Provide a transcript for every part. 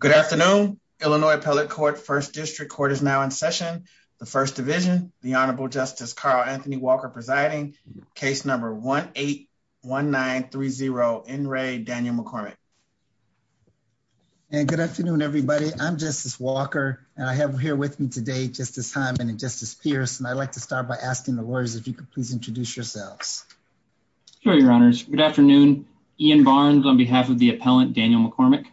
Good afternoon. Illinois Appellate Court First District Court is now in session. The First Division, the Honorable Justice Carl Anthony Walker presiding. Case number 1-8-1930, N. Ray Daniel McCormick. And good afternoon everybody. I'm Justice Walker and I have here with me today Justice Hyman and Justice Pierce and I'd like to start by asking the lawyers if you could please introduce yourselves. Sure, your honors. Good afternoon. Ian Barnes on behalf of the appellant, Daniel McCormick.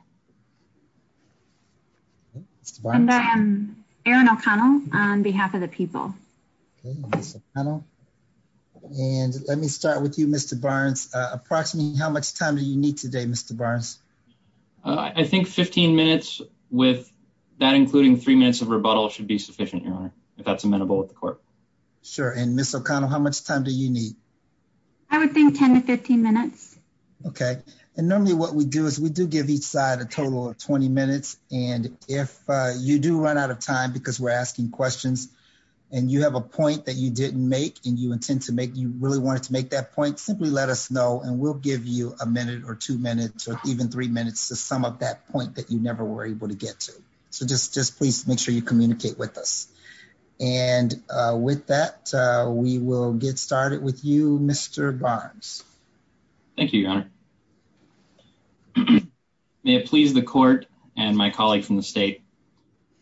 And I am Erin O'Connell on behalf of the people. And let me start with you, Mr. Barnes. Approximately how much time do you need today, Mr. Barnes? I think 15 minutes with that including three minutes of rebuttal should be sufficient, your honor, if that's amenable with the court. Sure. And Ms. O'Connell, how much time do you need? I would think 10-15 minutes. Okay. And normally what we do is we do give each side a total of 20 minutes and if you do run out of time because we're asking questions and you have a point that you didn't make and you intend to make, you really wanted to make that point, simply let us know and we'll give you a minute or two minutes or even three minutes to sum up that point that you never were able to get to. So just please make sure you communicate with us. And with that, we will get it with you, Mr. Barnes. Thank you, your honor. May it please the court and my colleague from the state.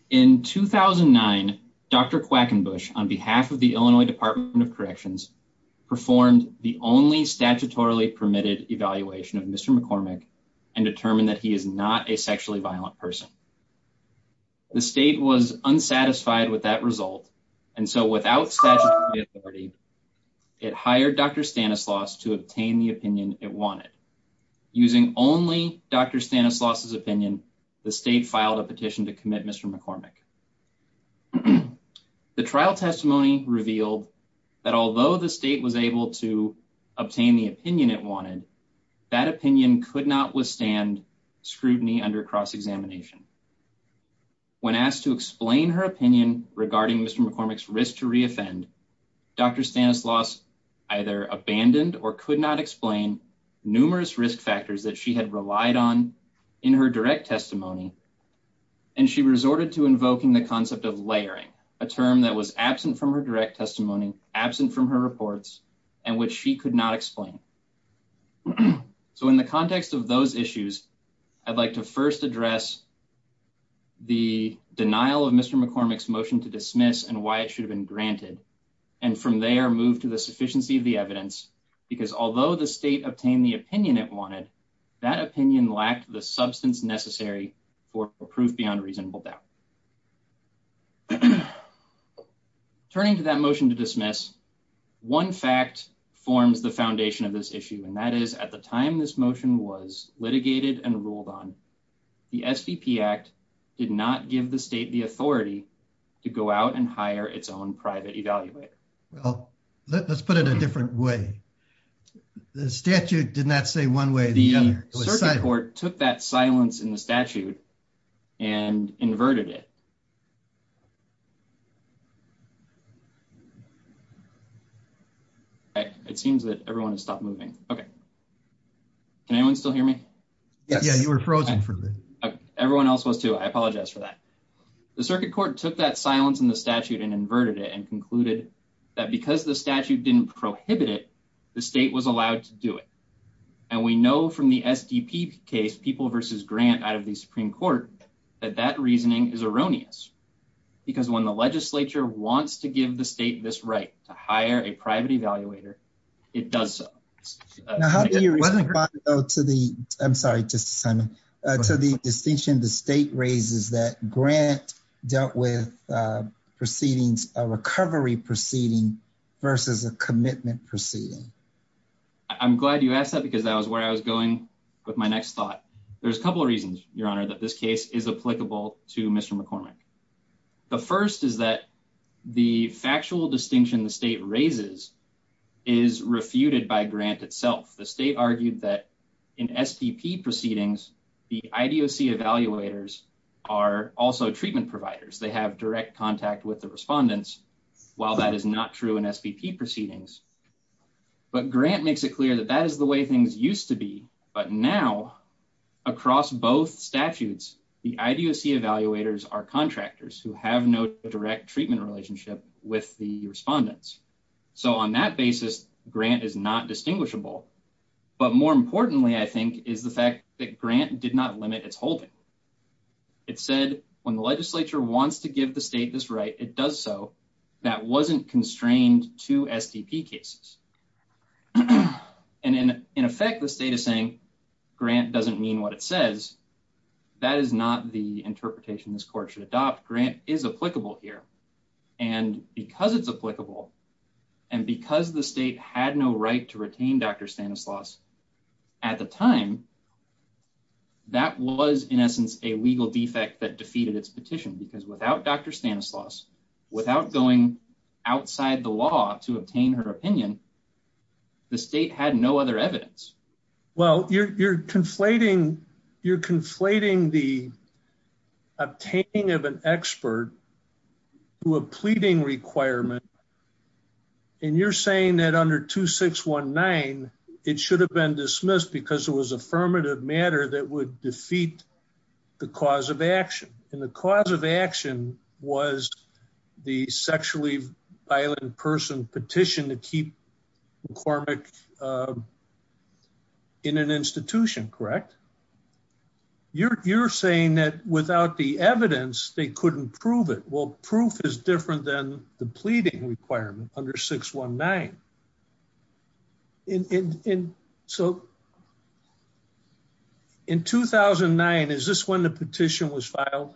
In 2009, Dr. Quackenbush on behalf of the Illinois Department of Corrections performed the only statutorily permitted evaluation of Mr. McCormick and determined that he is not a sexually violent person. The state was unsatisfied with that result and so without statutory authority, it hired Dr. Stanislaus to obtain the opinion it wanted. Using only Dr. Stanislaus's opinion, the state filed a petition to commit Mr. McCormick. The trial testimony revealed that although the state was able to obtain the opinion it wanted, that opinion could not withstand scrutiny under cross-examination. When asked to explain her opinion regarding Mr. McCormick's risk to re-offend, Dr. Stanislaus either abandoned or could not explain numerous risk factors that she had relied on in her direct testimony and she resorted to invoking the concept of layering, a term that was absent from her direct testimony, absent from her reports, and which she could not explain. So in the context of those issues, I'd like to first address the denial of Mr. McCormick's to dismiss and why it should have been granted and from there move to the sufficiency of the evidence because although the state obtained the opinion it wanted, that opinion lacked the substance necessary for proof beyond reasonable doubt. Turning to that motion to dismiss, one fact forms the foundation of this issue and that is at the time this motion was litigated and ruled on, the SVP Act did not give the state the authority to go out and hire its own private evaluator. Well let's put it a different way. The statute did not say one way the other. The circuit court took that silence in the statute and inverted it. Okay it seems that everyone has stopped moving. Okay can anyone still hear me? Yes yeah you were frozen for a minute. Everyone else was too. I apologize for that. The circuit court took that silence in the statute and inverted it and concluded that because the statute didn't prohibit it, the state was allowed to do it and we know from the SDP case people versus grant out of the Supreme Court that that reasoning is erroneous because when the legislature wants to give the state this right to hire a private evaluator it does so. Now how do you go to the I'm sorry to the distinction the state raises that grant dealt with proceedings a recovery proceeding versus a commitment proceeding? I'm glad you asked that because that was where I was going with my next thought. There's a couple reasons your honor that this case is applicable to Mr. McCormick. The first is that the factual distinction the state raises is refuted by grant itself. The state argued that in SPP proceedings the IDOC evaluators are also treatment providers. They have direct contact with the respondents while that is not true in SPP proceedings. But grant makes it clear that that is the way things used to be but now across both statutes the IDOC evaluators are contractors who have no direct treatment relationship with the respondents so on that basis grant is not distinguishable but more importantly I think is the fact that grant did not limit its holding. It said when the legislature wants to give the state this right it does so that wasn't constrained to STP cases and in effect the state is saying grant doesn't mean what it says. That is not the interpretation this court should adopt. Grant is applicable here and because it's applicable and because the state had no right to retain Dr. Stanislaus at the time that was in essence a legal defect that defeated its petition because without Dr. Stanislaus without going outside the law to obtain her opinion the state had no other evidence. Well you're conflating the obtaining of an expert to a pleading requirement and you're saying that under 2619 it should have been dismissed because it was affirmative matter that would defeat the cause of action and the cause of action was the sexually violent person petition to keep McCormick in an institution correct? You're saying that without the evidence they couldn't prove it. Well proof is different than the pleading requirement under 619 and so in 2009 is this when the petition was filed?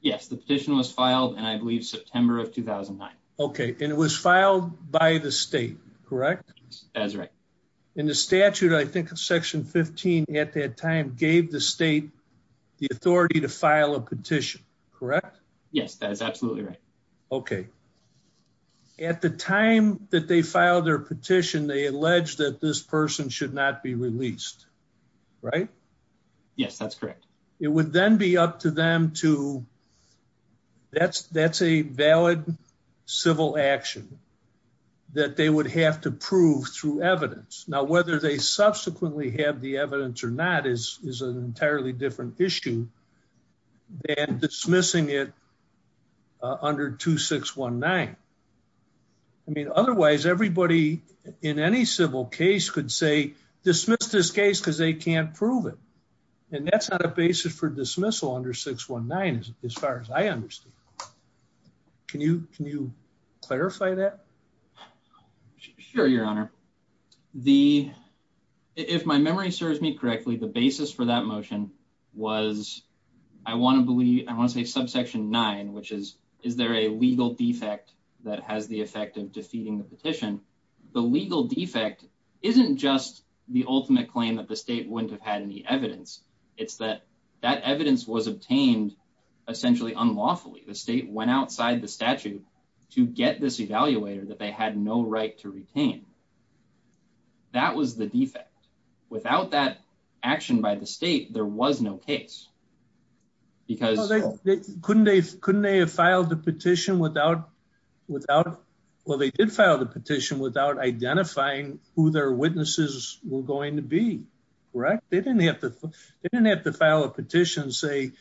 Yes the petition was filed and I believe September of 2009. Okay and it was filed by the state correct? That's right. And the statute I think of section 15 at that time gave the state the authority to file a petition correct? Yes that's absolutely right. Okay at the time that they filed their petition they alleged that this person should not be released right? Yes that's correct. It would then be up to them to that's that's a valid civil action that they would have to prove through evidence. Now whether they subsequently have the evidence or not is is an entirely different issue than dismissing it under 2619. I mean otherwise everybody in any civil case could say dismiss this case because they can't prove it and that's not a basis for dismissal under 619 as far as I understand. Can you can you clarify that? Sure your honor the if my memory serves me correctly the basis for that motion was I want to believe I want to say subsection 9 which is is there a legal defect that has the effect of defeating the petition? The legal defect isn't just the ultimate claim that the state wouldn't have had any evidence. It's that that evidence was obtained essentially unlawfully. The state went outside the statute to get this evaluator that they had no right to retain. That was the defect. Without that action by the state there was no case because they couldn't they couldn't they have filed the petition without without well they did file the petition without identifying who their witnesses were going to be correct? They didn't have to they didn't have to file a petition say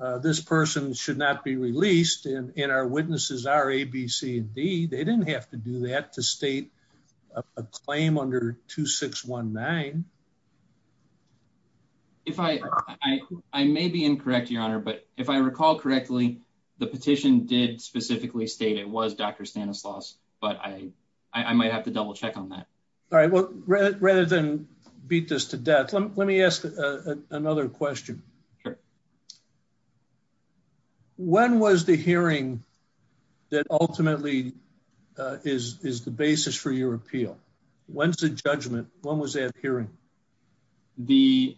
uh this person should not be released and and our witnesses are A, B, C, D. They didn't have to do that to state a claim under 2619. If I I may be incorrect your honor but if I recall correctly the petition did specifically state it was Dr. Stanislaus but I I might have to double check on that. All right well rather than beat this to death let me ask another question. Sure. When was the hearing that ultimately uh is is the basis for your appeal? When's the judgment? When was that hearing? The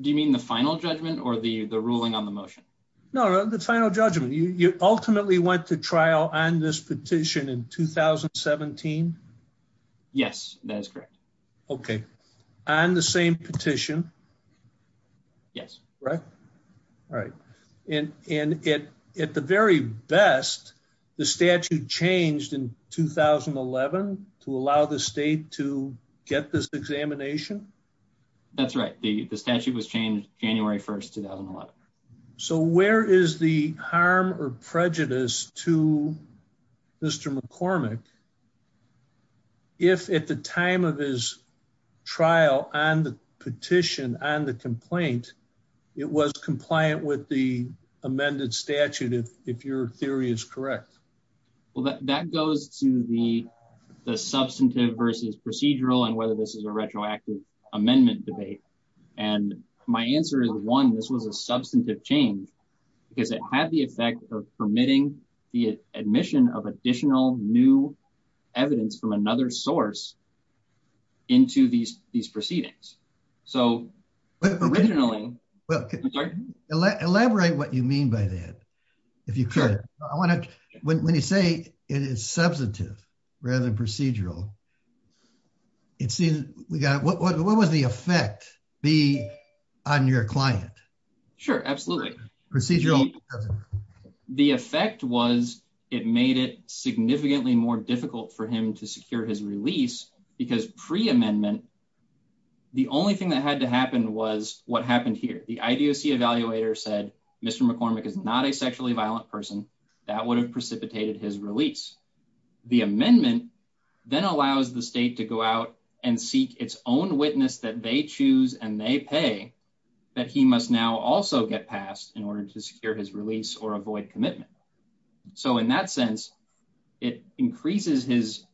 do you mean the final judgment or the the ruling on the motion? No the final judgment you you ultimately went to trial on this petition in 2017? Yes that is correct. Okay on the same petition? Yes. Correct? All right and and it at the very best the statute changed in 2011 to allow the state to get this examination? That's right the the statute was changed January 1st 2011. So where is the harm or prejudice to Mr. McCormick? If at the time of his trial on the petition on the complaint it was compliant with the amended statute if if your theory is correct? Well that goes to the the substantive versus procedural and whether this is a retroactive amendment debate. And my answer is one this was a substantive change because it had the effect of permitting the admission of additional new evidence from another source into these these proceedings. So originally. Well elaborate what you mean by that if you could. I want to when you say it is substantive rather than procedural it seems we got what what was the effect be on your client? Sure absolutely. Procedural. The effect was it made it significantly more difficult for him to secure his release because pre-amendment the only thing that had to happen was what happened here. The IDOC evaluator said Mr. McCormick is not a sexually violent person that would have precipitated his release. The amendment then allows the state to go out and seek its own witness that they choose and they pay that he must now also get passed in order to secure his release or avoid commitment. So in that sense it increases his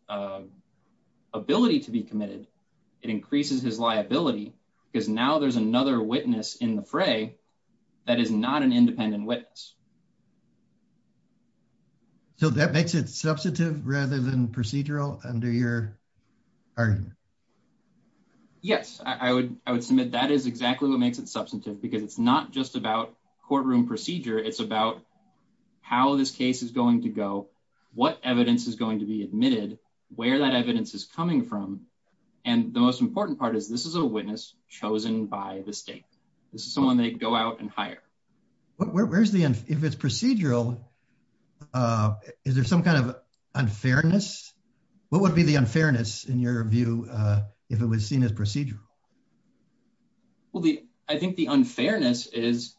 ability to be committed. It increases his liability because now there's another witness in the fray that is not an independent witness. So that makes it substantive rather than procedural under your argument? Yes I would submit that is exactly what makes it substantive because it's not just about courtroom procedure it's about how this case is going to go what evidence is going to be admitted where that evidence is coming from and the most important part is this is a witness chosen by the state. This is someone they go out and hire. Where's the if it's procedural is there some kind of unfairness? What would be the unfairness in your view if it was seen as procedural? Well the I think the unfairness is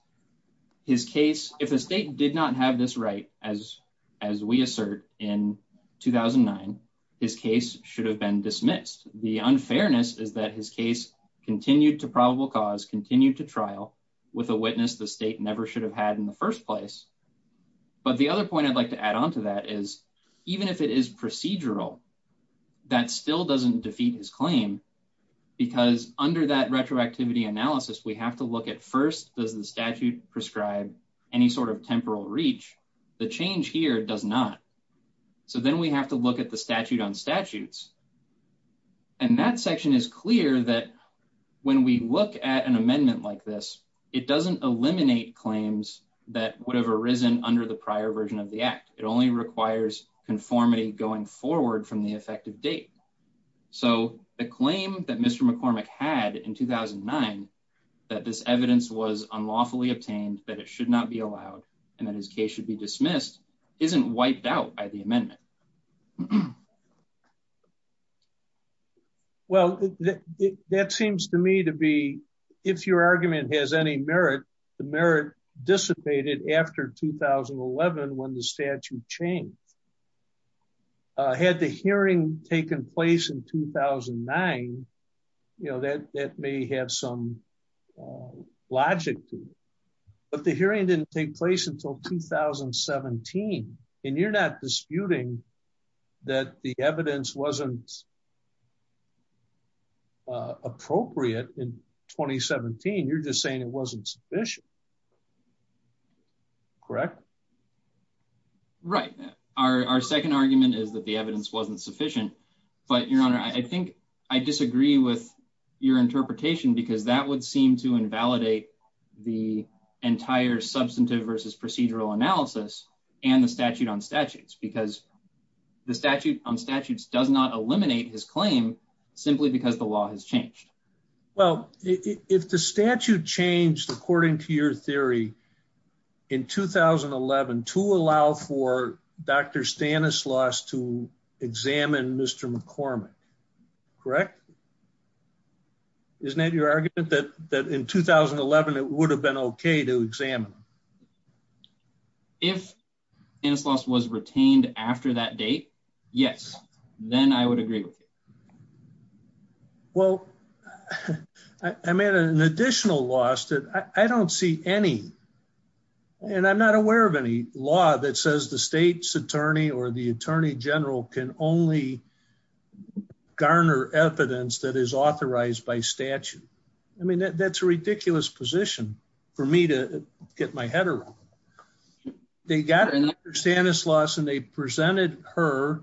his case if the state did not have this right as as we assert in 2009 his case should have been dismissed. The unfairness is that his case continued to probable cause continued to trial with a witness the state never should have had in the first place but the other point I'd like to add on to that is even if it is procedural that still doesn't defeat his claim because under that retroactivity analysis we have to look at first does the statute prescribe any sort of temporal reach the change here does not so then we have to look at the statute on statutes and that section is clear that when we look at an amendment like this it doesn't eliminate claims that would have arisen under the prior version of the act it only requires conformity going forward from the effective date so the claim that Mr. McCormick had in 2009 that this evidence was unlawfully obtained that it should not be allowed and that his case should be dismissed isn't wiped out by the amendment. Well that seems to me to be if your argument has any merit the merit dissipated after 2011 when the statute changed had the hearing taken place in 2009 you know that that may have some logic to it but the hearing didn't take place until 2017 and you're not disputing that the evidence wasn't appropriate in 2017 you're just saying it wasn't sufficient correct right our second argument is that the evidence wasn't sufficient but your honor I think I disagree with your interpretation because that would seem to invalidate the entire substantive versus procedural analysis and the statute on statutes because the statute on statutes does not eliminate his claim simply because the law has changed well if the statute changed according to your theory in 2011 to allow for Dr. Stanislaus to examine Mr. McCormick correct isn't that your argument that that in 2011 it would have been okay to examine if Stanislaus was retained after that date yes then I would agree with you well I made an additional loss that I don't see any and I'm not aware of any law that says the state's attorney or the attorney general can only garner evidence that is authorized by statute I mean that's a ridiculous position for me to get my head around they got Dr. Stanislaus and they presented her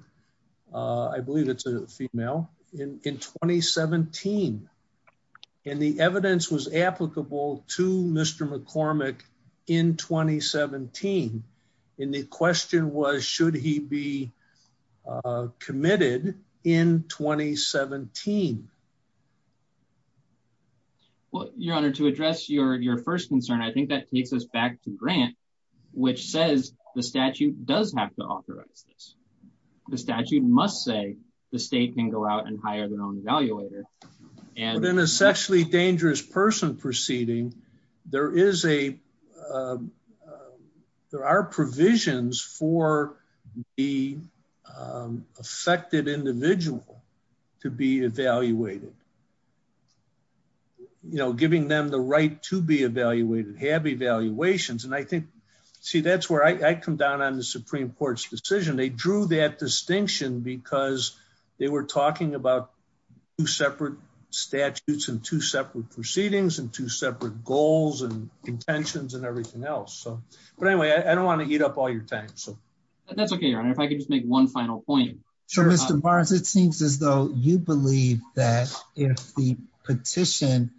uh I believe it's a female in in 2017 and the evidence was applicable to Mr. McCormick in 2017 and the question was should he be uh committed in 2017 well your honor to address your your first concern I think that takes us back to grant which says the statute does have to authorize this the statute must say the state can go out and hire their own evaluator and an essentially dangerous person proceeding there is a uh there are provisions for the affected individual to be evaluated you know giving them the right to be evaluated have evaluations and I think see that's where I come down on the supreme court's decision they drew that distinction because they were talking about two separate statutes and two separate proceedings and two separate goals and intentions and everything else so but anyway I don't want to eat up all your time so that's okay your honor if I could just make one final point so Mr. Barnes it seems as though you believe that if the petition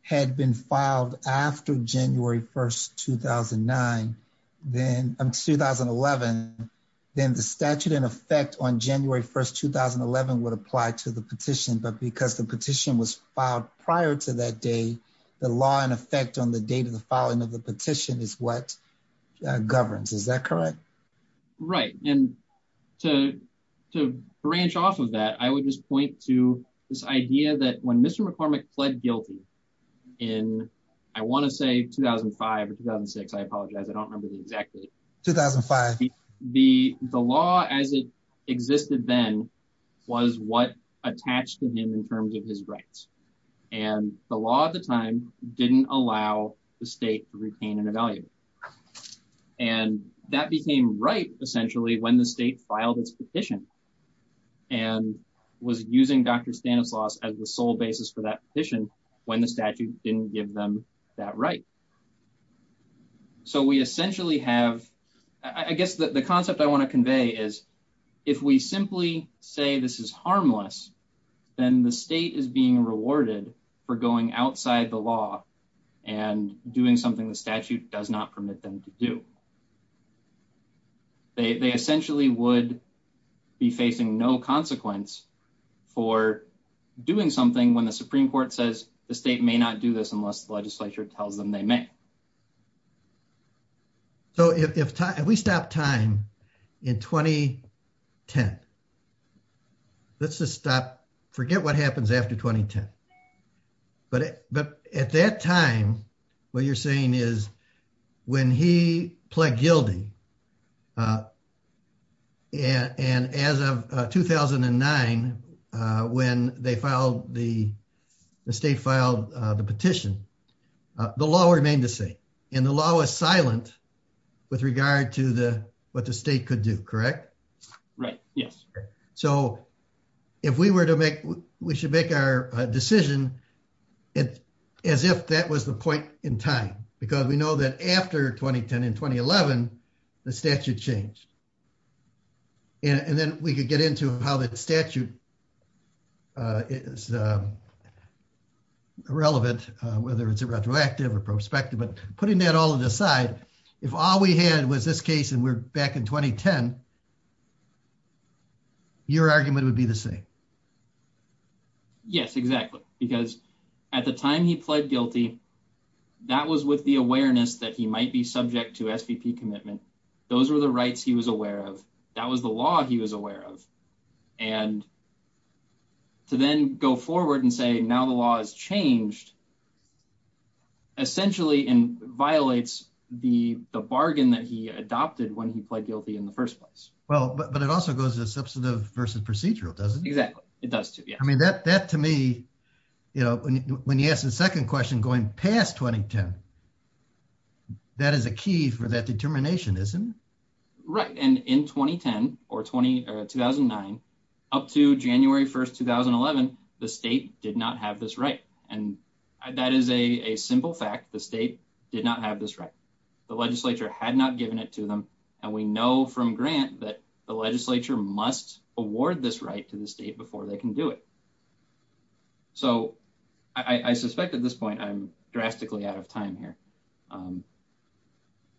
had been filed after January 1st 2009 then um 2011 then the statute in effect on January 1st 2011 would apply to the petition but because the petition was filed prior to that day the law in effect on the date of the filing of the petition is what governs is that correct right and to to branch off of that I would just point to this idea that when Mr. McCormick pled guilty in I want to say 2005 or 2006 I apologize I don't remember the exact date 2005 the the law as it existed then was what attached to him in terms of his rights and the law at the time didn't allow the state to retain an evaluator and that became right essentially when the state filed its petition and was using Dr. Stanislaus as the sole basis for that petition when the statute didn't give them that right so we essentially have I guess that the concept I want to convey is if we simply say this is harmless then the state is being rewarded for going outside the law and doing something the statute does not permit them to do they they essentially would be facing no consequence for doing something when the Supreme Court says the state may not do this unless the legislature tells them they may so if we stop time in 2010 let's just stop forget what happens after 2010 but but at that time what you're saying is when he pled guilty uh and as of 2009 when they filed the state filed the petition the law remained the same and the law was silent with regard to the what the state could do correct right yes so if we were to make we should make our decision it as if that was the point in time because we know that after 2010 and 2011 the statute changed and then we could get into how that statute uh is uh irrelevant whether it's a retroactive or prospective but putting that all to the side if all we had was this case and we're back in 2010 your argument would be the same yes exactly because at the time he pled guilty that was with the awareness that he might be subject to svp commitment those were the rights he was aware of that was the law he was aware of and to then go forward and say now the law has changed essentially and violates the the bargain that he adopted when he pled guilty in the first place well but it also goes to substantive versus procedural doesn't exactly it does too yeah that that to me you know when you ask the second question going past 2010 that is a key for that determination isn't it right and in 2010 or 20 uh 2009 up to january 1st 2011 the state did not have this right and that is a a simple fact the state did not have this right the legislature had not given it to them and we know from grant that the legislature must award this right to the state before they can do it so i i suspect at this point i'm drastically out of time here um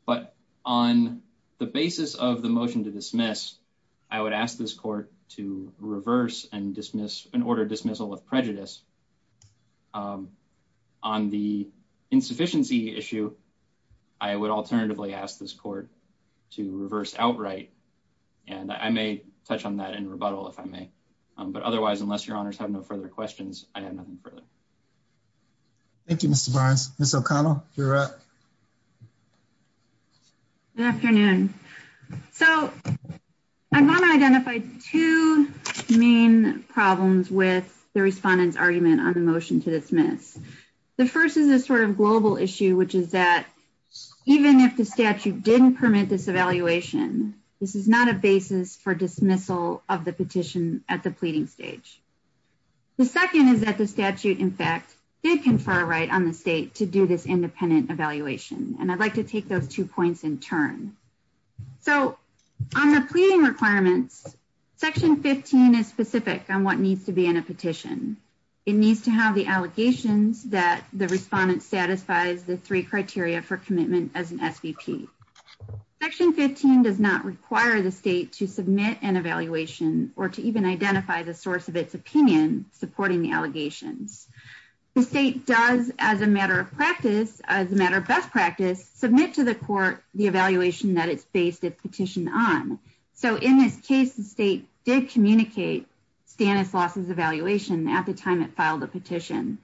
but on the basis of the motion to dismiss i would ask this court to reverse and dismiss an order dismissal of prejudice um on the insufficiency issue i would alternatively ask this court to reverse outright and i may touch on that in rebuttal if i may but otherwise unless your honors have no further questions i have nothing further thank you mr barnes miss o'connell you're up good afternoon so i want to identify two main problems with the respondent's argument on the the first is a sort of global issue which is that even if the statute didn't permit this evaluation this is not a basis for dismissal of the petition at the pleading stage the second is that the statute in fact did confer a right on the state to do this independent evaluation and i'd like to take those two points in turn so on the pleading requirements section 15 is specific on what needs to be in a petition it needs to have the allegations that the respondent satisfies the three criteria for commitment as an svp section 15 does not require the state to submit an evaluation or to even identify the source of its opinion supporting the allegations the state does as a matter of practice as a matter of best practice submit to the court the evaluation that it's based its petition on so in this case the state did communicate stannis loss's evaluation at the time it filed a petition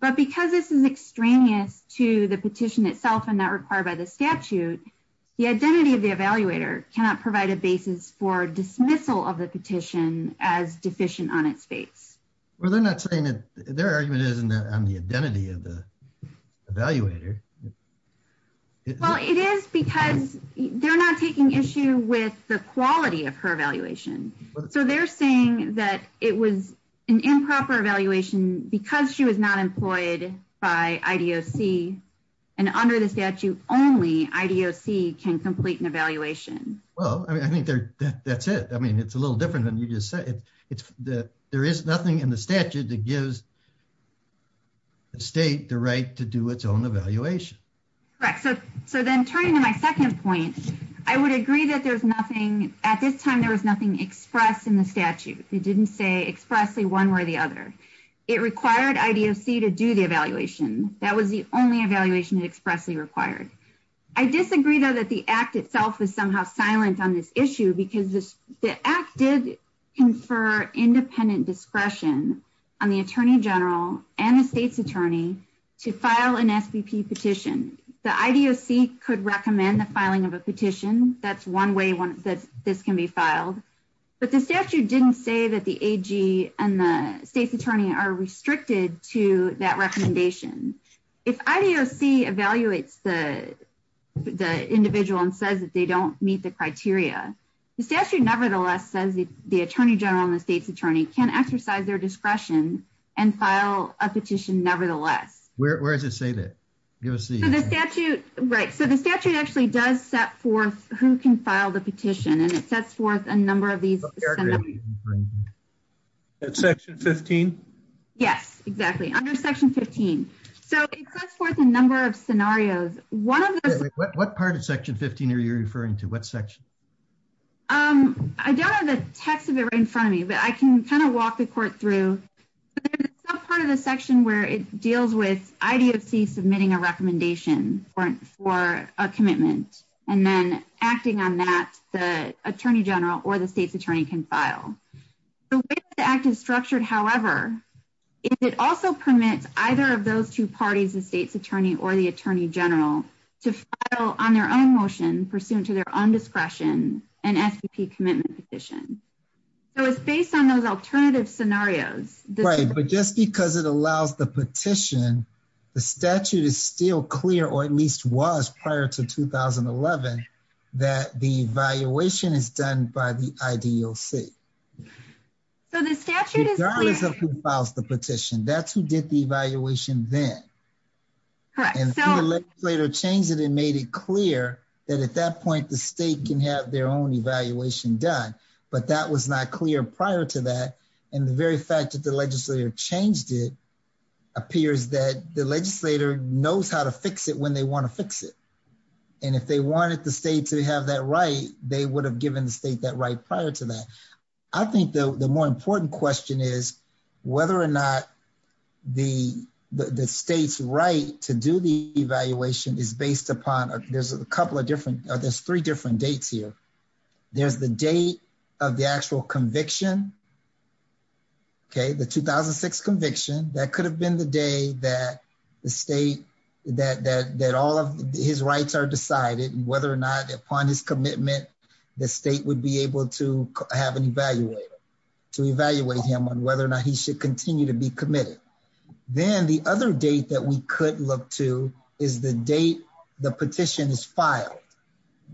but because this is extraneous to the petition itself and not required by the statute the identity of the evaluator cannot provide a basis for dismissal of the petition as deficient on its face well they're not saying that their argument is on the identity of the evaluator well it is because they're not taking issue with the quality of her evaluation so they're saying that it was an improper evaluation because she was not employed by idoc and under the statute only idoc can complete an evaluation well i mean i think that's it i mean it's a little different than you just said it's that there is nothing in the statute that gives the state the right to do its own evaluation correct so so then turning to my second point i would agree that there's nothing at this time there was nothing expressed in the statute they didn't say expressly one way or the other it required idoc to do the evaluation that was the only evaluation expressly required i disagree though that the act itself is somehow silent on this issue because this the act did confer independent discretion on the attorney general and the state's attorney to file an svp petition the idoc could recommend the filing of a petition that's one way one that this can be filed but the statute didn't say that the ag and the state's attorney are restricted to that recommendation if idoc evaluates the the individual and says that they don't meet the criteria the statute nevertheless says the attorney general and the state's attorney can exercise their discretion and file a petition nevertheless where does it say that give us the the statute right so the statute actually does set forth who can file the petition and it sets forth a number of these scenarios at section 15 yes exactly under section 15 so it sets forth a number of scenarios one of the what part of section 15 are you referring to what section um i don't have the text of it right in front of me but i can kind of walk the court through part of the section where it deals with idoc submitting a recommendation or for a commitment and then acting on that the attorney general or the state's attorney can file the way the act is structured however it also permits either of those two parties the state's attorney or the attorney general to file on their own motion pursuant to their own discretion an svp commitment petition so it's based on those alternative scenarios right but just because it 11 that the evaluation is done by the idoc so the statute is there is a who files the petition that's who did the evaluation then and the legislator changed it and made it clear that at that point the state can have their own evaluation done but that was not clear prior to that and the very fact that the legislator changed it appears that the legislator knows how to fix it when they want to fix it and if they wanted the state to have that right they would have given the state that right prior to that i think the the more important question is whether or not the the state's right to do the evaluation is based upon there's a couple of different there's three different dates here there's the date of the actual conviction okay the 2006 conviction that could have been the day that the state that that that all of his rights are decided whether or not upon his commitment the state would be able to have an evaluator to evaluate him on whether or not he should continue to be committed then the other date that we could look to is the date the petition is filed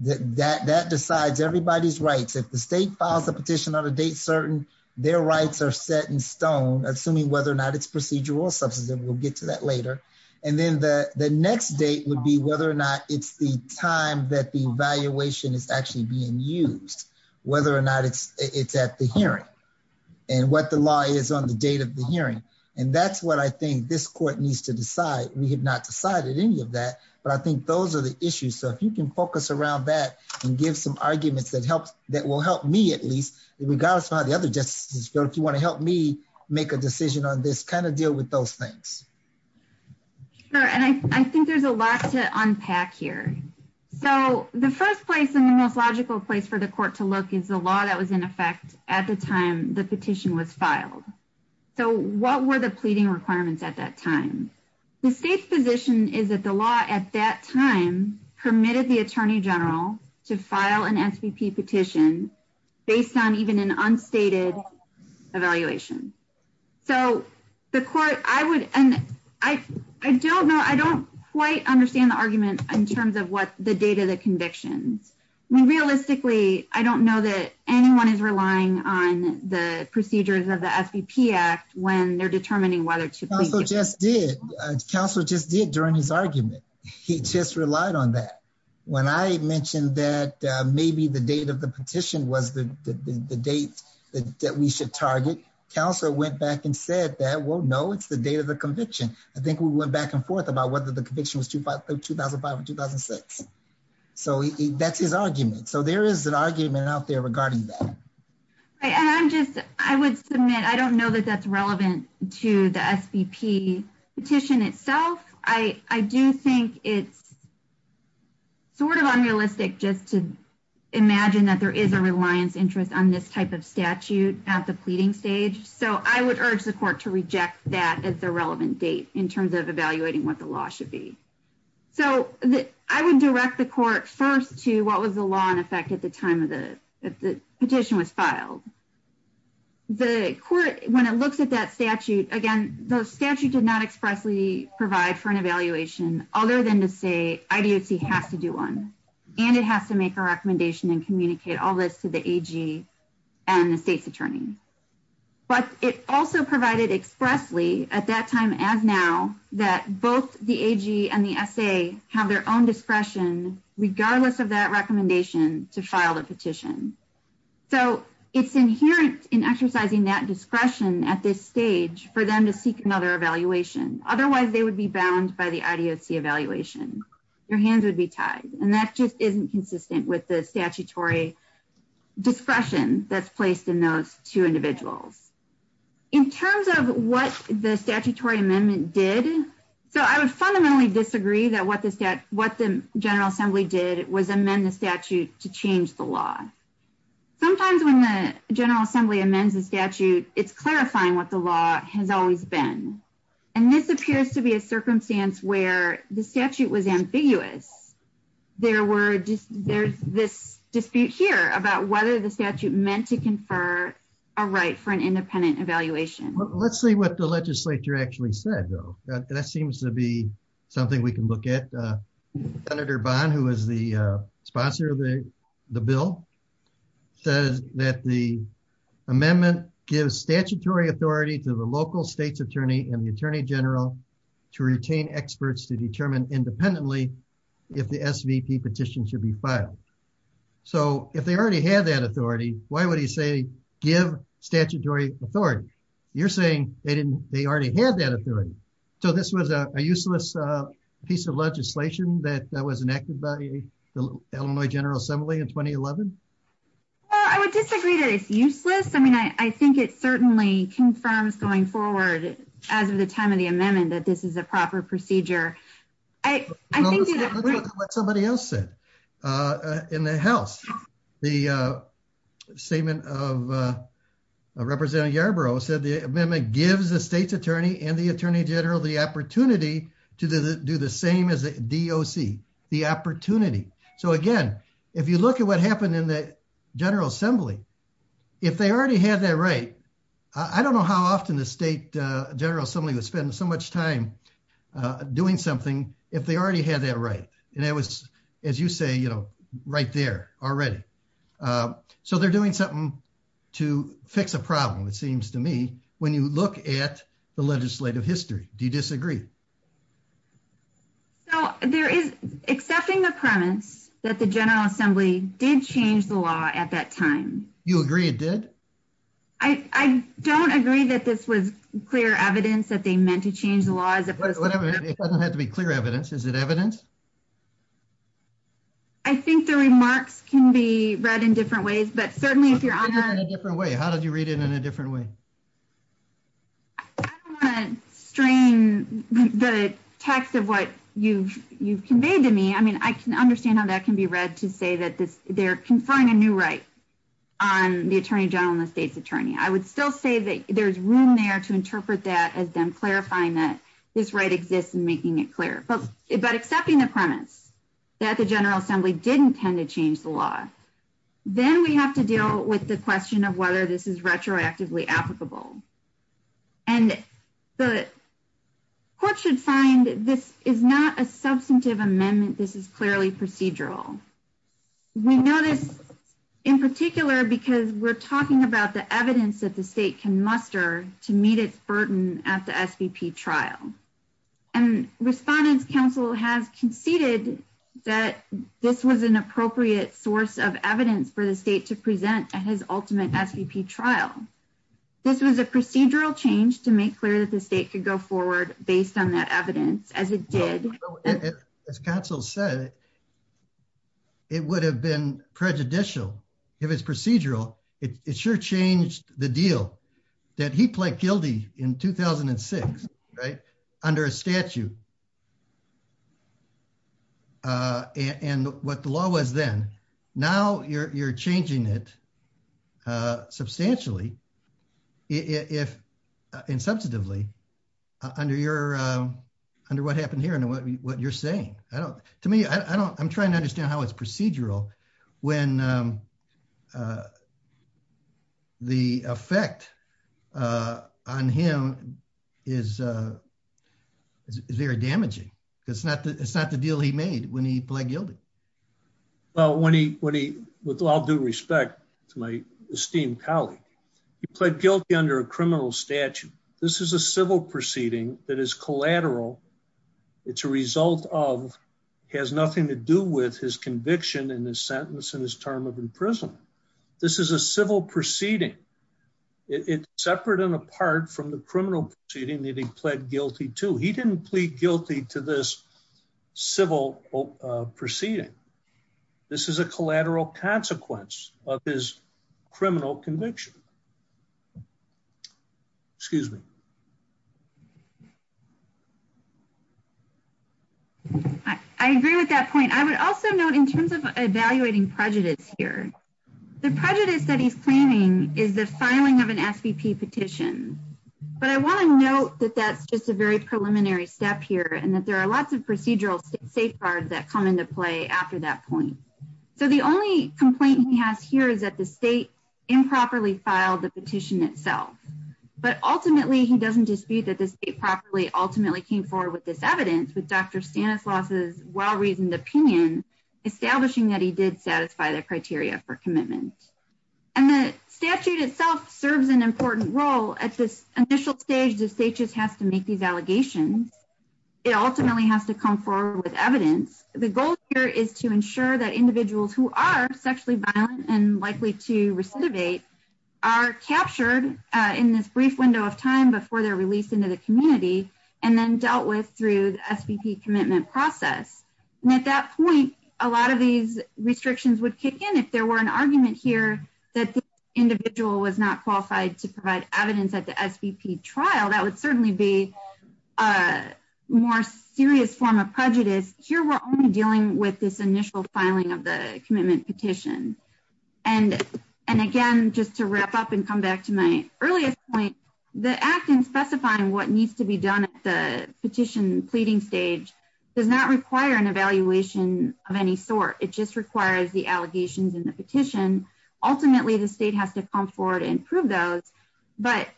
that that that decides everybody's rights if the state files a petition on a date certain their rights are set in stone assuming whether or not it's procedural or substantive we'll get to that later and then the the next date would be whether or not it's the time that the evaluation is actually being used whether or not it's it's at the hearing and what the law is on the date of the hearing and that's what i think this court needs to decide we have not decided any of that but i think those are issues so if you can focus around that and give some arguments that helps that will help me at least regardless of how the other justices feel if you want to help me make a decision on this kind of deal with those things sure and i i think there's a lot to unpack here so the first place and the most logical place for the court to look is the law that was in effect at the time the petition was filed so what were the pleading requirements at that time the state's position is that the law at that time permitted the attorney general to file an svp petition based on even an unstated evaluation so the court i would and i i don't know i don't quite understand the argument in terms of what the date of the convictions i mean realistically i don't know that anyone is relying on the procedures of the svp act when they're determining whether to just did council just did during his argument he just relied on that when i mentioned that maybe the date of the petition was the the date that we should target council went back and said that well no it's the date of the conviction i think we went back and forth about whether the conviction was 2005 or 2006 so that's his argument so there is an argument out there regarding that right and i'm just i would submit i don't know that that's relevant to the svp petition itself i i do think it's sort of unrealistic just to imagine that there is a reliance interest on this type of statute at the pleading stage so i would urge the court to reject that as the relevant date in terms of evaluating what the law should be so i would direct the court first to what was the law in effect at the time of the petition was filed the court when it looks at that statute again the statute did not expressly provide for an evaluation other than to say idoc has to do one and it has to make a recommendation and communicate all this to the ag and the state's attorney but it also provided expressly at that time as now that both the ag and the sa have their own discretion regardless of that recommendation to file the petition so it's inherent in exercising that discretion at this stage for them to seek another evaluation otherwise they would be bound by the idoc evaluation your hands would be tied and that just isn't consistent with the statutory discretion that's placed in those two individuals in terms of what the statutory amendment did so i would fundamentally disagree that what the stat what the general assembly did was amend the statute to change the law sometimes when the general assembly amends the statute it's clarifying what the law has always been and this appears to be a circumstance where the statute was ambiguous there were just there's this dispute here about whether the statute meant to confer a right for an independent evaluation let's see what the legislature actually said though that seems to be something we can look at uh senator bond who is the uh sponsor of the the bill says that the amendment gives statutory authority to the local state's attorney and the attorney general to retain experts to determine independently if the svp petition should be filed so if they already had that authority why would he say give statutory authority you're saying they didn't they already had that authority so this was a useless uh piece of legislation that that was enacted by the illinois general assembly in 2011 well i would disagree that it's useless i mean i i think it certainly confirms going forward as of the time of the amendment that this is a proper procedure i i think what somebody else said uh in the house the uh statement of uh representative yarborough said the amendment gives the state's attorney and the attorney general the opportunity to do the same as the doc the opportunity so again if you look at what happened in the general assembly if they already had that right i don't know how often the state uh general assembly would spend so much time uh doing something if they already had that right and it was as you say you know right there already uh so they're doing something to fix a problem it seems to me when you look at the legislative history do you disagree so there is accepting the premise that the general assembly did change the law at that time you agree it did i i don't agree that this was clear evidence that they meant to change the law as opposed to whatever it doesn't have to be clear evidence is it evidence i think the remarks can be read in different ways but certainly if you're on a different way how did you read it in a different way i don't want to strain the text of what you've you've conveyed to me i mean i can understand how that can be read to say that this they're conferring a new right on the attorney general and the state's attorney i would still say that there's room there to interpret that as them clarifying that this right exists and making it clear but but accepting the premise that the general assembly didn't tend to change the law then we have to deal with the question of whether this is retroactively applicable and the court should find this is not a substantive amendment this is clearly procedural we notice in particular because we're talking about the evidence that the state can muster to meet its burden at the svp trial and respondents council has conceded that this was an appropriate source of evidence for the state to present at his ultimate svp trial this was a procedural change to make clear that the state could go forward based on that evidence as it did as counsel said it would have been prejudicial if it's procedural it sure changed the deal that he pled guilty in 2006 right under a statute uh and what the law was then now you're you're changing it uh substantially if in substantively under your uh under what happened here and what you're saying i don't to me i don't i'm trying to understand how it's procedural when um uh the effect uh on him is uh is very damaging because it's not the it's not the deal he made when he pled guilty well when he when he with all due respect to my esteemed colleague he pled guilty under a criminal statute this is a civil proceeding that is collateral it's a result of has nothing to do with his conviction in his sentence in his term of imprisonment this is a civil proceeding it's separate and apart from the criminal proceeding that he pled guilty to he didn't plead guilty to this civil proceeding this is a collateral consequence of his criminal conviction excuse me i agree with that point i would also note in terms of evaluating prejudice here the prejudice that he's claiming is the filing of an svp petition but i want to note that that's just a very preliminary step here and that there are lots of procedural safeguards that come into play after that point so the only complaint he has here is that the state improperly filed the petition itself but ultimately he doesn't dispute that the state properly ultimately came forward with this evidence with dr stanislaus's well-reasoned opinion establishing that he did their criteria for commitment and the statute itself serves an important role at this initial stage the state just has to make these allegations it ultimately has to come forward with evidence the goal here is to ensure that individuals who are sexually violent and likely to recidivate are captured in this brief window of time before they're released into the community and then dealt with through the svp commitment process and at that point a lot of these restrictions would kick in if there were an argument here that the individual was not qualified to provide evidence at the svp trial that would certainly be a more serious form of prejudice here we're only dealing with this initial filing of the commitment petition and and again just to wrap up and come back to my earliest point the act in specifying what needs to be done at the petition pleading stage does not require an evaluation of any sort it just requires the allegations in the petition ultimately the state has to come forward and prove those but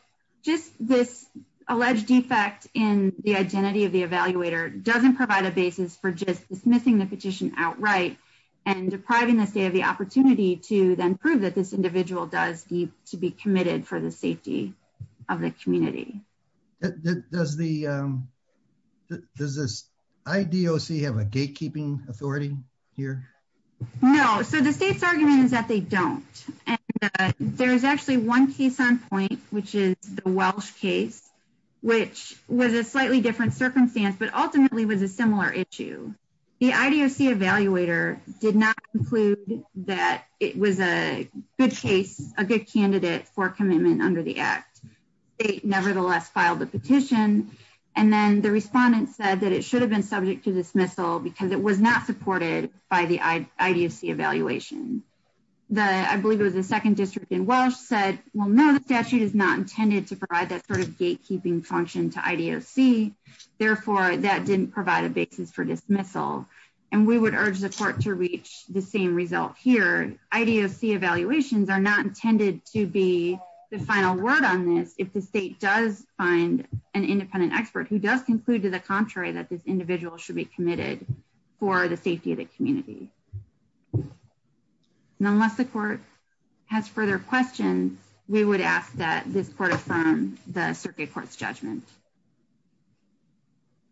just this alleged defect in the identity of the evaluator doesn't provide a basis for just dismissing the petition outright and depriving the state of the opportunity to then prove that this individual does need to be committed for the safety of the community that does the um does this idoc have a gatekeeping authority here no so the state's argument is that they don't and there's actually one case on point which is the welsh case which was a slightly different circumstance but ultimately was a similar issue the idoc evaluator did not conclude that it was a good case a good candidate for commitment under the act they nevertheless filed the petition and then the respondent said that it should have been subject to dismissal because it was not supported by the idoc evaluation the i believe it was the second district in welsh said well no the statute is not intended to provide that sort of gatekeeping function to idoc therefore that didn't provide a basis for dismissal and we would urge the court to reach the same result here idoc evaluations are not intended to be the final word on this if the state does find an independent expert who does conclude to the contrary that this individual should be committed for the safety of the community and unless the court has further questions we would ask that this court affirm the circuit court's judgment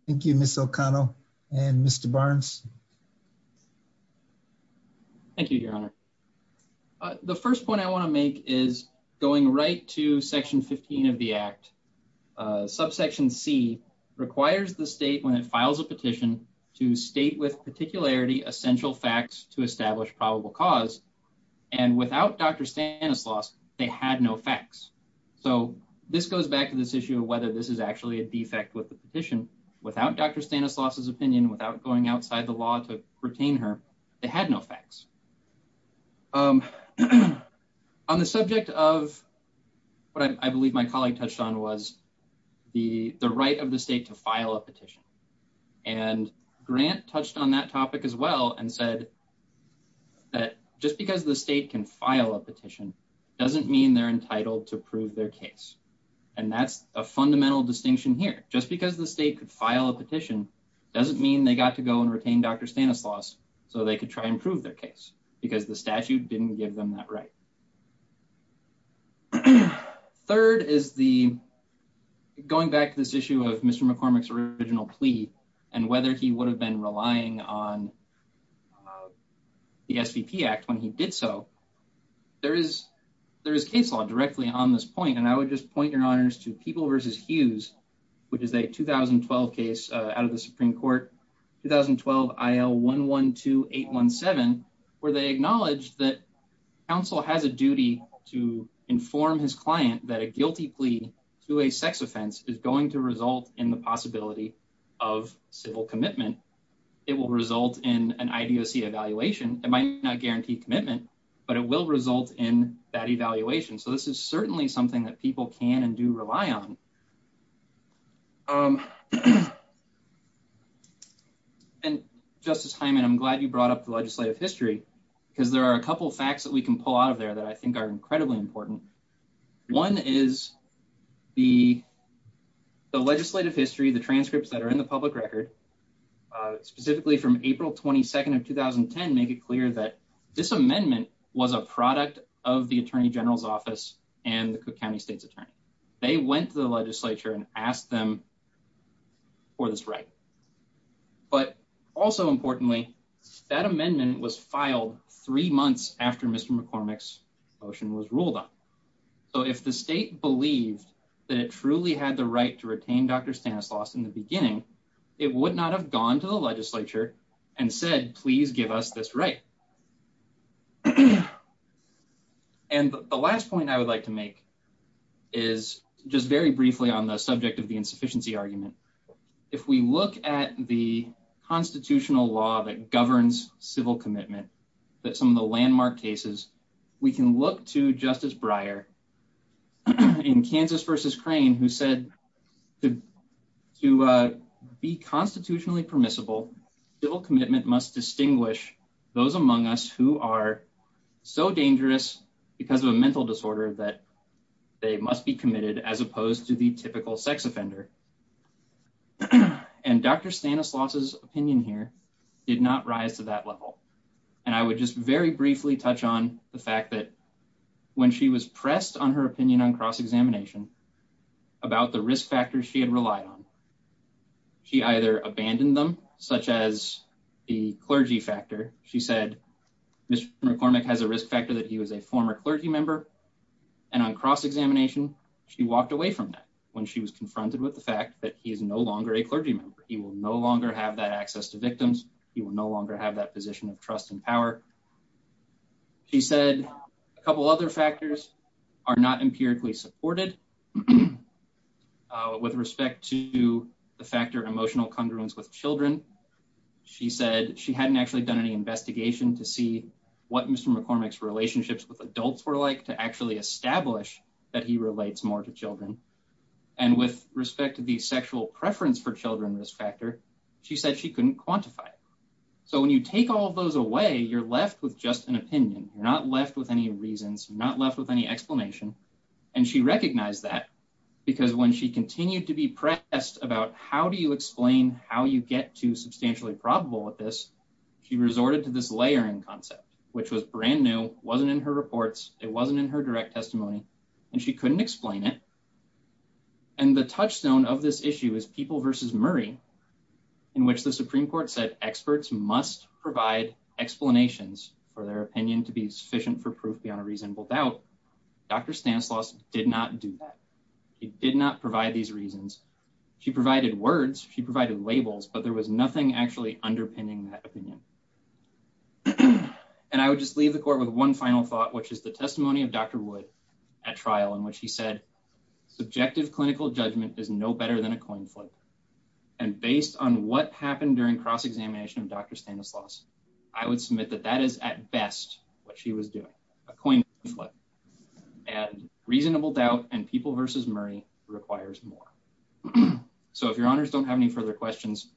thank you miss o'connell and mr barnes thank you your honor uh the first point i want to make is going right to section 15 of the act uh subsection c requires the state when it files a petition to state with particularity essential facts to establish probable cause and without dr stanislaus they had no facts so this goes back to this issue whether this is actually a defect with the petition without dr stanislaus's opinion without going outside the law to retain her they had no facts um on the subject of what i believe my colleague touched on was the the right of the state to file a petition and grant touched on that topic as well and said that just because the state can file a petition doesn't mean they're entitled to prove their case and that's a fundamental distinction here just because the state could file a petition doesn't mean they got to go and retain dr stanislaus so they could try and prove their case because the statute didn't give them that right third is the going back to this issue of mr mccormick's original plea and whether he would have been relying on the svp act when he did so there is there is case law directly on this and i would just point your honors to people versus hughes which is a 2012 case out of the supreme court 2012 il112817 where they acknowledged that counsel has a duty to inform his client that a guilty plea to a sex offense is going to result in the possibility of civil commitment it will result in an idoc evaluation it might not guarantee commitment but it will result in that evaluation so this is certainly something that people can and do rely on um and justice hyman i'm glad you brought up the legislative history because there are a couple facts that we can pull out of there that i think are incredibly important one is the the legislative history the transcripts that are in the public record uh specifically from april 22nd of 2010 make it clear that this amendment was a product of the attorney general's office and the cook county state's attorney they went to the legislature and asked them for this right but also importantly that amendment was filed three months after mr mccormick's motion was ruled on so if the state believed that it truly had the right to retain dr stanislaus in the beginning it would not have gone to the legislature and said please give us this right and the last point i would like to make is just very briefly on the subject of the insufficiency argument if we look at the constitutional law that governs civil commitment that some of the landmark cases we can look to justice brier in kansas versus those among us who are so dangerous because of a mental disorder that they must be committed as opposed to the typical sex offender and dr stanislaus's opinion here did not rise to that level and i would just very briefly touch on the fact that when she was pressed on her opinion on cross-examination about the risk factors she had relied on she either abandoned them such as the clergy factor she said mr mccormick has a risk factor that he was a former clergy member and on cross-examination she walked away from that when she was confronted with the fact that he is no longer a clergy member he will no longer have that access to victims he will no longer have that position of trust and power she said a couple other factors are not empirically supported uh with respect to the factor of emotional congruence with children she said she hadn't actually done any investigation to see what mr mccormick's relationships with adults were like to actually establish that he relates more to children and with respect to the sexual preference for children risk factor she said she couldn't quantify it so when you take all those away you're left with just an opinion you're not left with any reasons not left with any explanation and she recognized that because when she continued to be pressed about how do you explain how you get to substantially probable with this she resorted to this layering concept which was brand new wasn't in her reports it wasn't in her direct testimony and she couldn't explain it and the touchstone of this issue is people versus murray in which the supreme court said experts must provide explanations for their opinion to be sufficient for proof beyond a reasonable doubt dr stanislaus did not do that he did not provide these reasons she provided words she provided labels but there was nothing actually underpinning that opinion and i would just leave the court with one final thought which is the testimony of dr wood at trial in which he said subjective clinical judgment is no better than a coin flip and based on what happened during cross-examination of dr stanislaus i would submit that that is at best what she was doing a coin flip and reasonable doubt and people versus murray requires more so if your honors don't have any further questions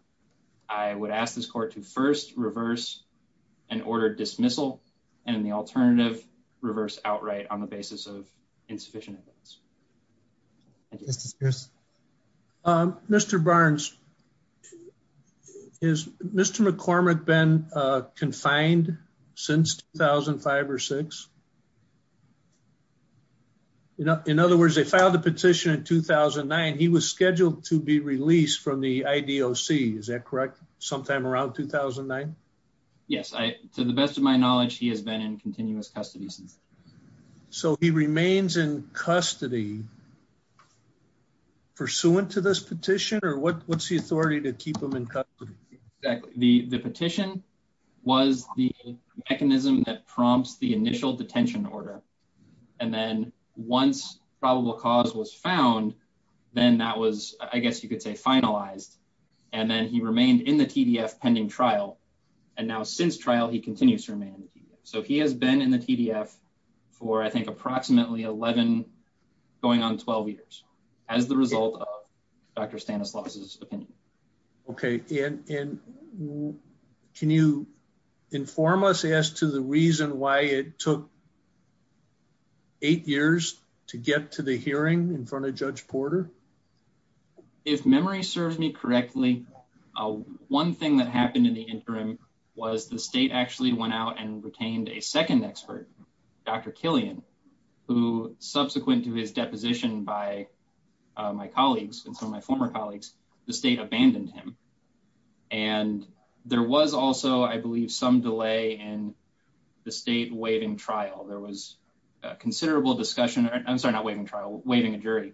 i would ask this court to first reverse an order dismissal and the alternative reverse outright on the basis of insufficient evidence mr barns is mr mccormick been uh confined since 2005 or six in other words they filed a petition in 2009 he was scheduled to be released from the idoc is that correct sometime around 2009 yes i to the best of my knowledge he has been in remains in custody pursuant to this petition or what what's the authority to keep him in custody exactly the the petition was the mechanism that prompts the initial detention order and then once probable cause was found then that was i guess you could say finalized and then he remained in the tdf pending trial and now since trial he continues to remain in the tdf so he has been in the tdf for i think approximately 11 going on 12 years as the result of dr stanislaus's opinion okay and can you inform us as to the reason why it took eight years to get to the hearing in front of judge porter if memory serves me correctly one thing that happened in the interim was the state actually went out and retained a second expert dr killian who subsequent to his deposition by my colleagues and some of my former colleagues the state abandoned him and there was also i believe some delay in the state waiving trial there was a considerable discussion i'm sorry not waiving trial waiving a jury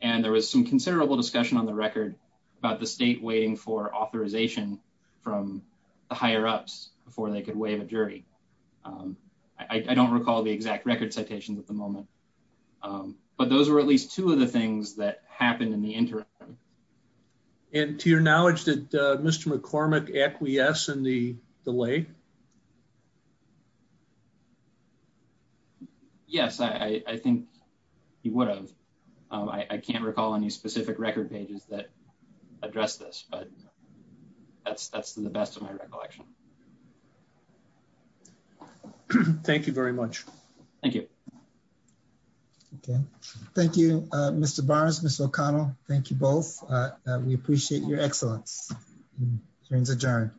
and there was some considerable discussion on the record about the state waiting for authorization from the higher ups before they could waive a jury i don't recall the exact record citations at the moment but those were at least two of the things that happened in the interim and to your knowledge that mr mccormick acquiesced in the delay yes i i think he would have i i can't recall any specific record pages that address this but that's that's the best of my recollection thank you very much thank you okay thank you uh mr bars miss o'connell thank you both we appreciate your excellence hearings adjourned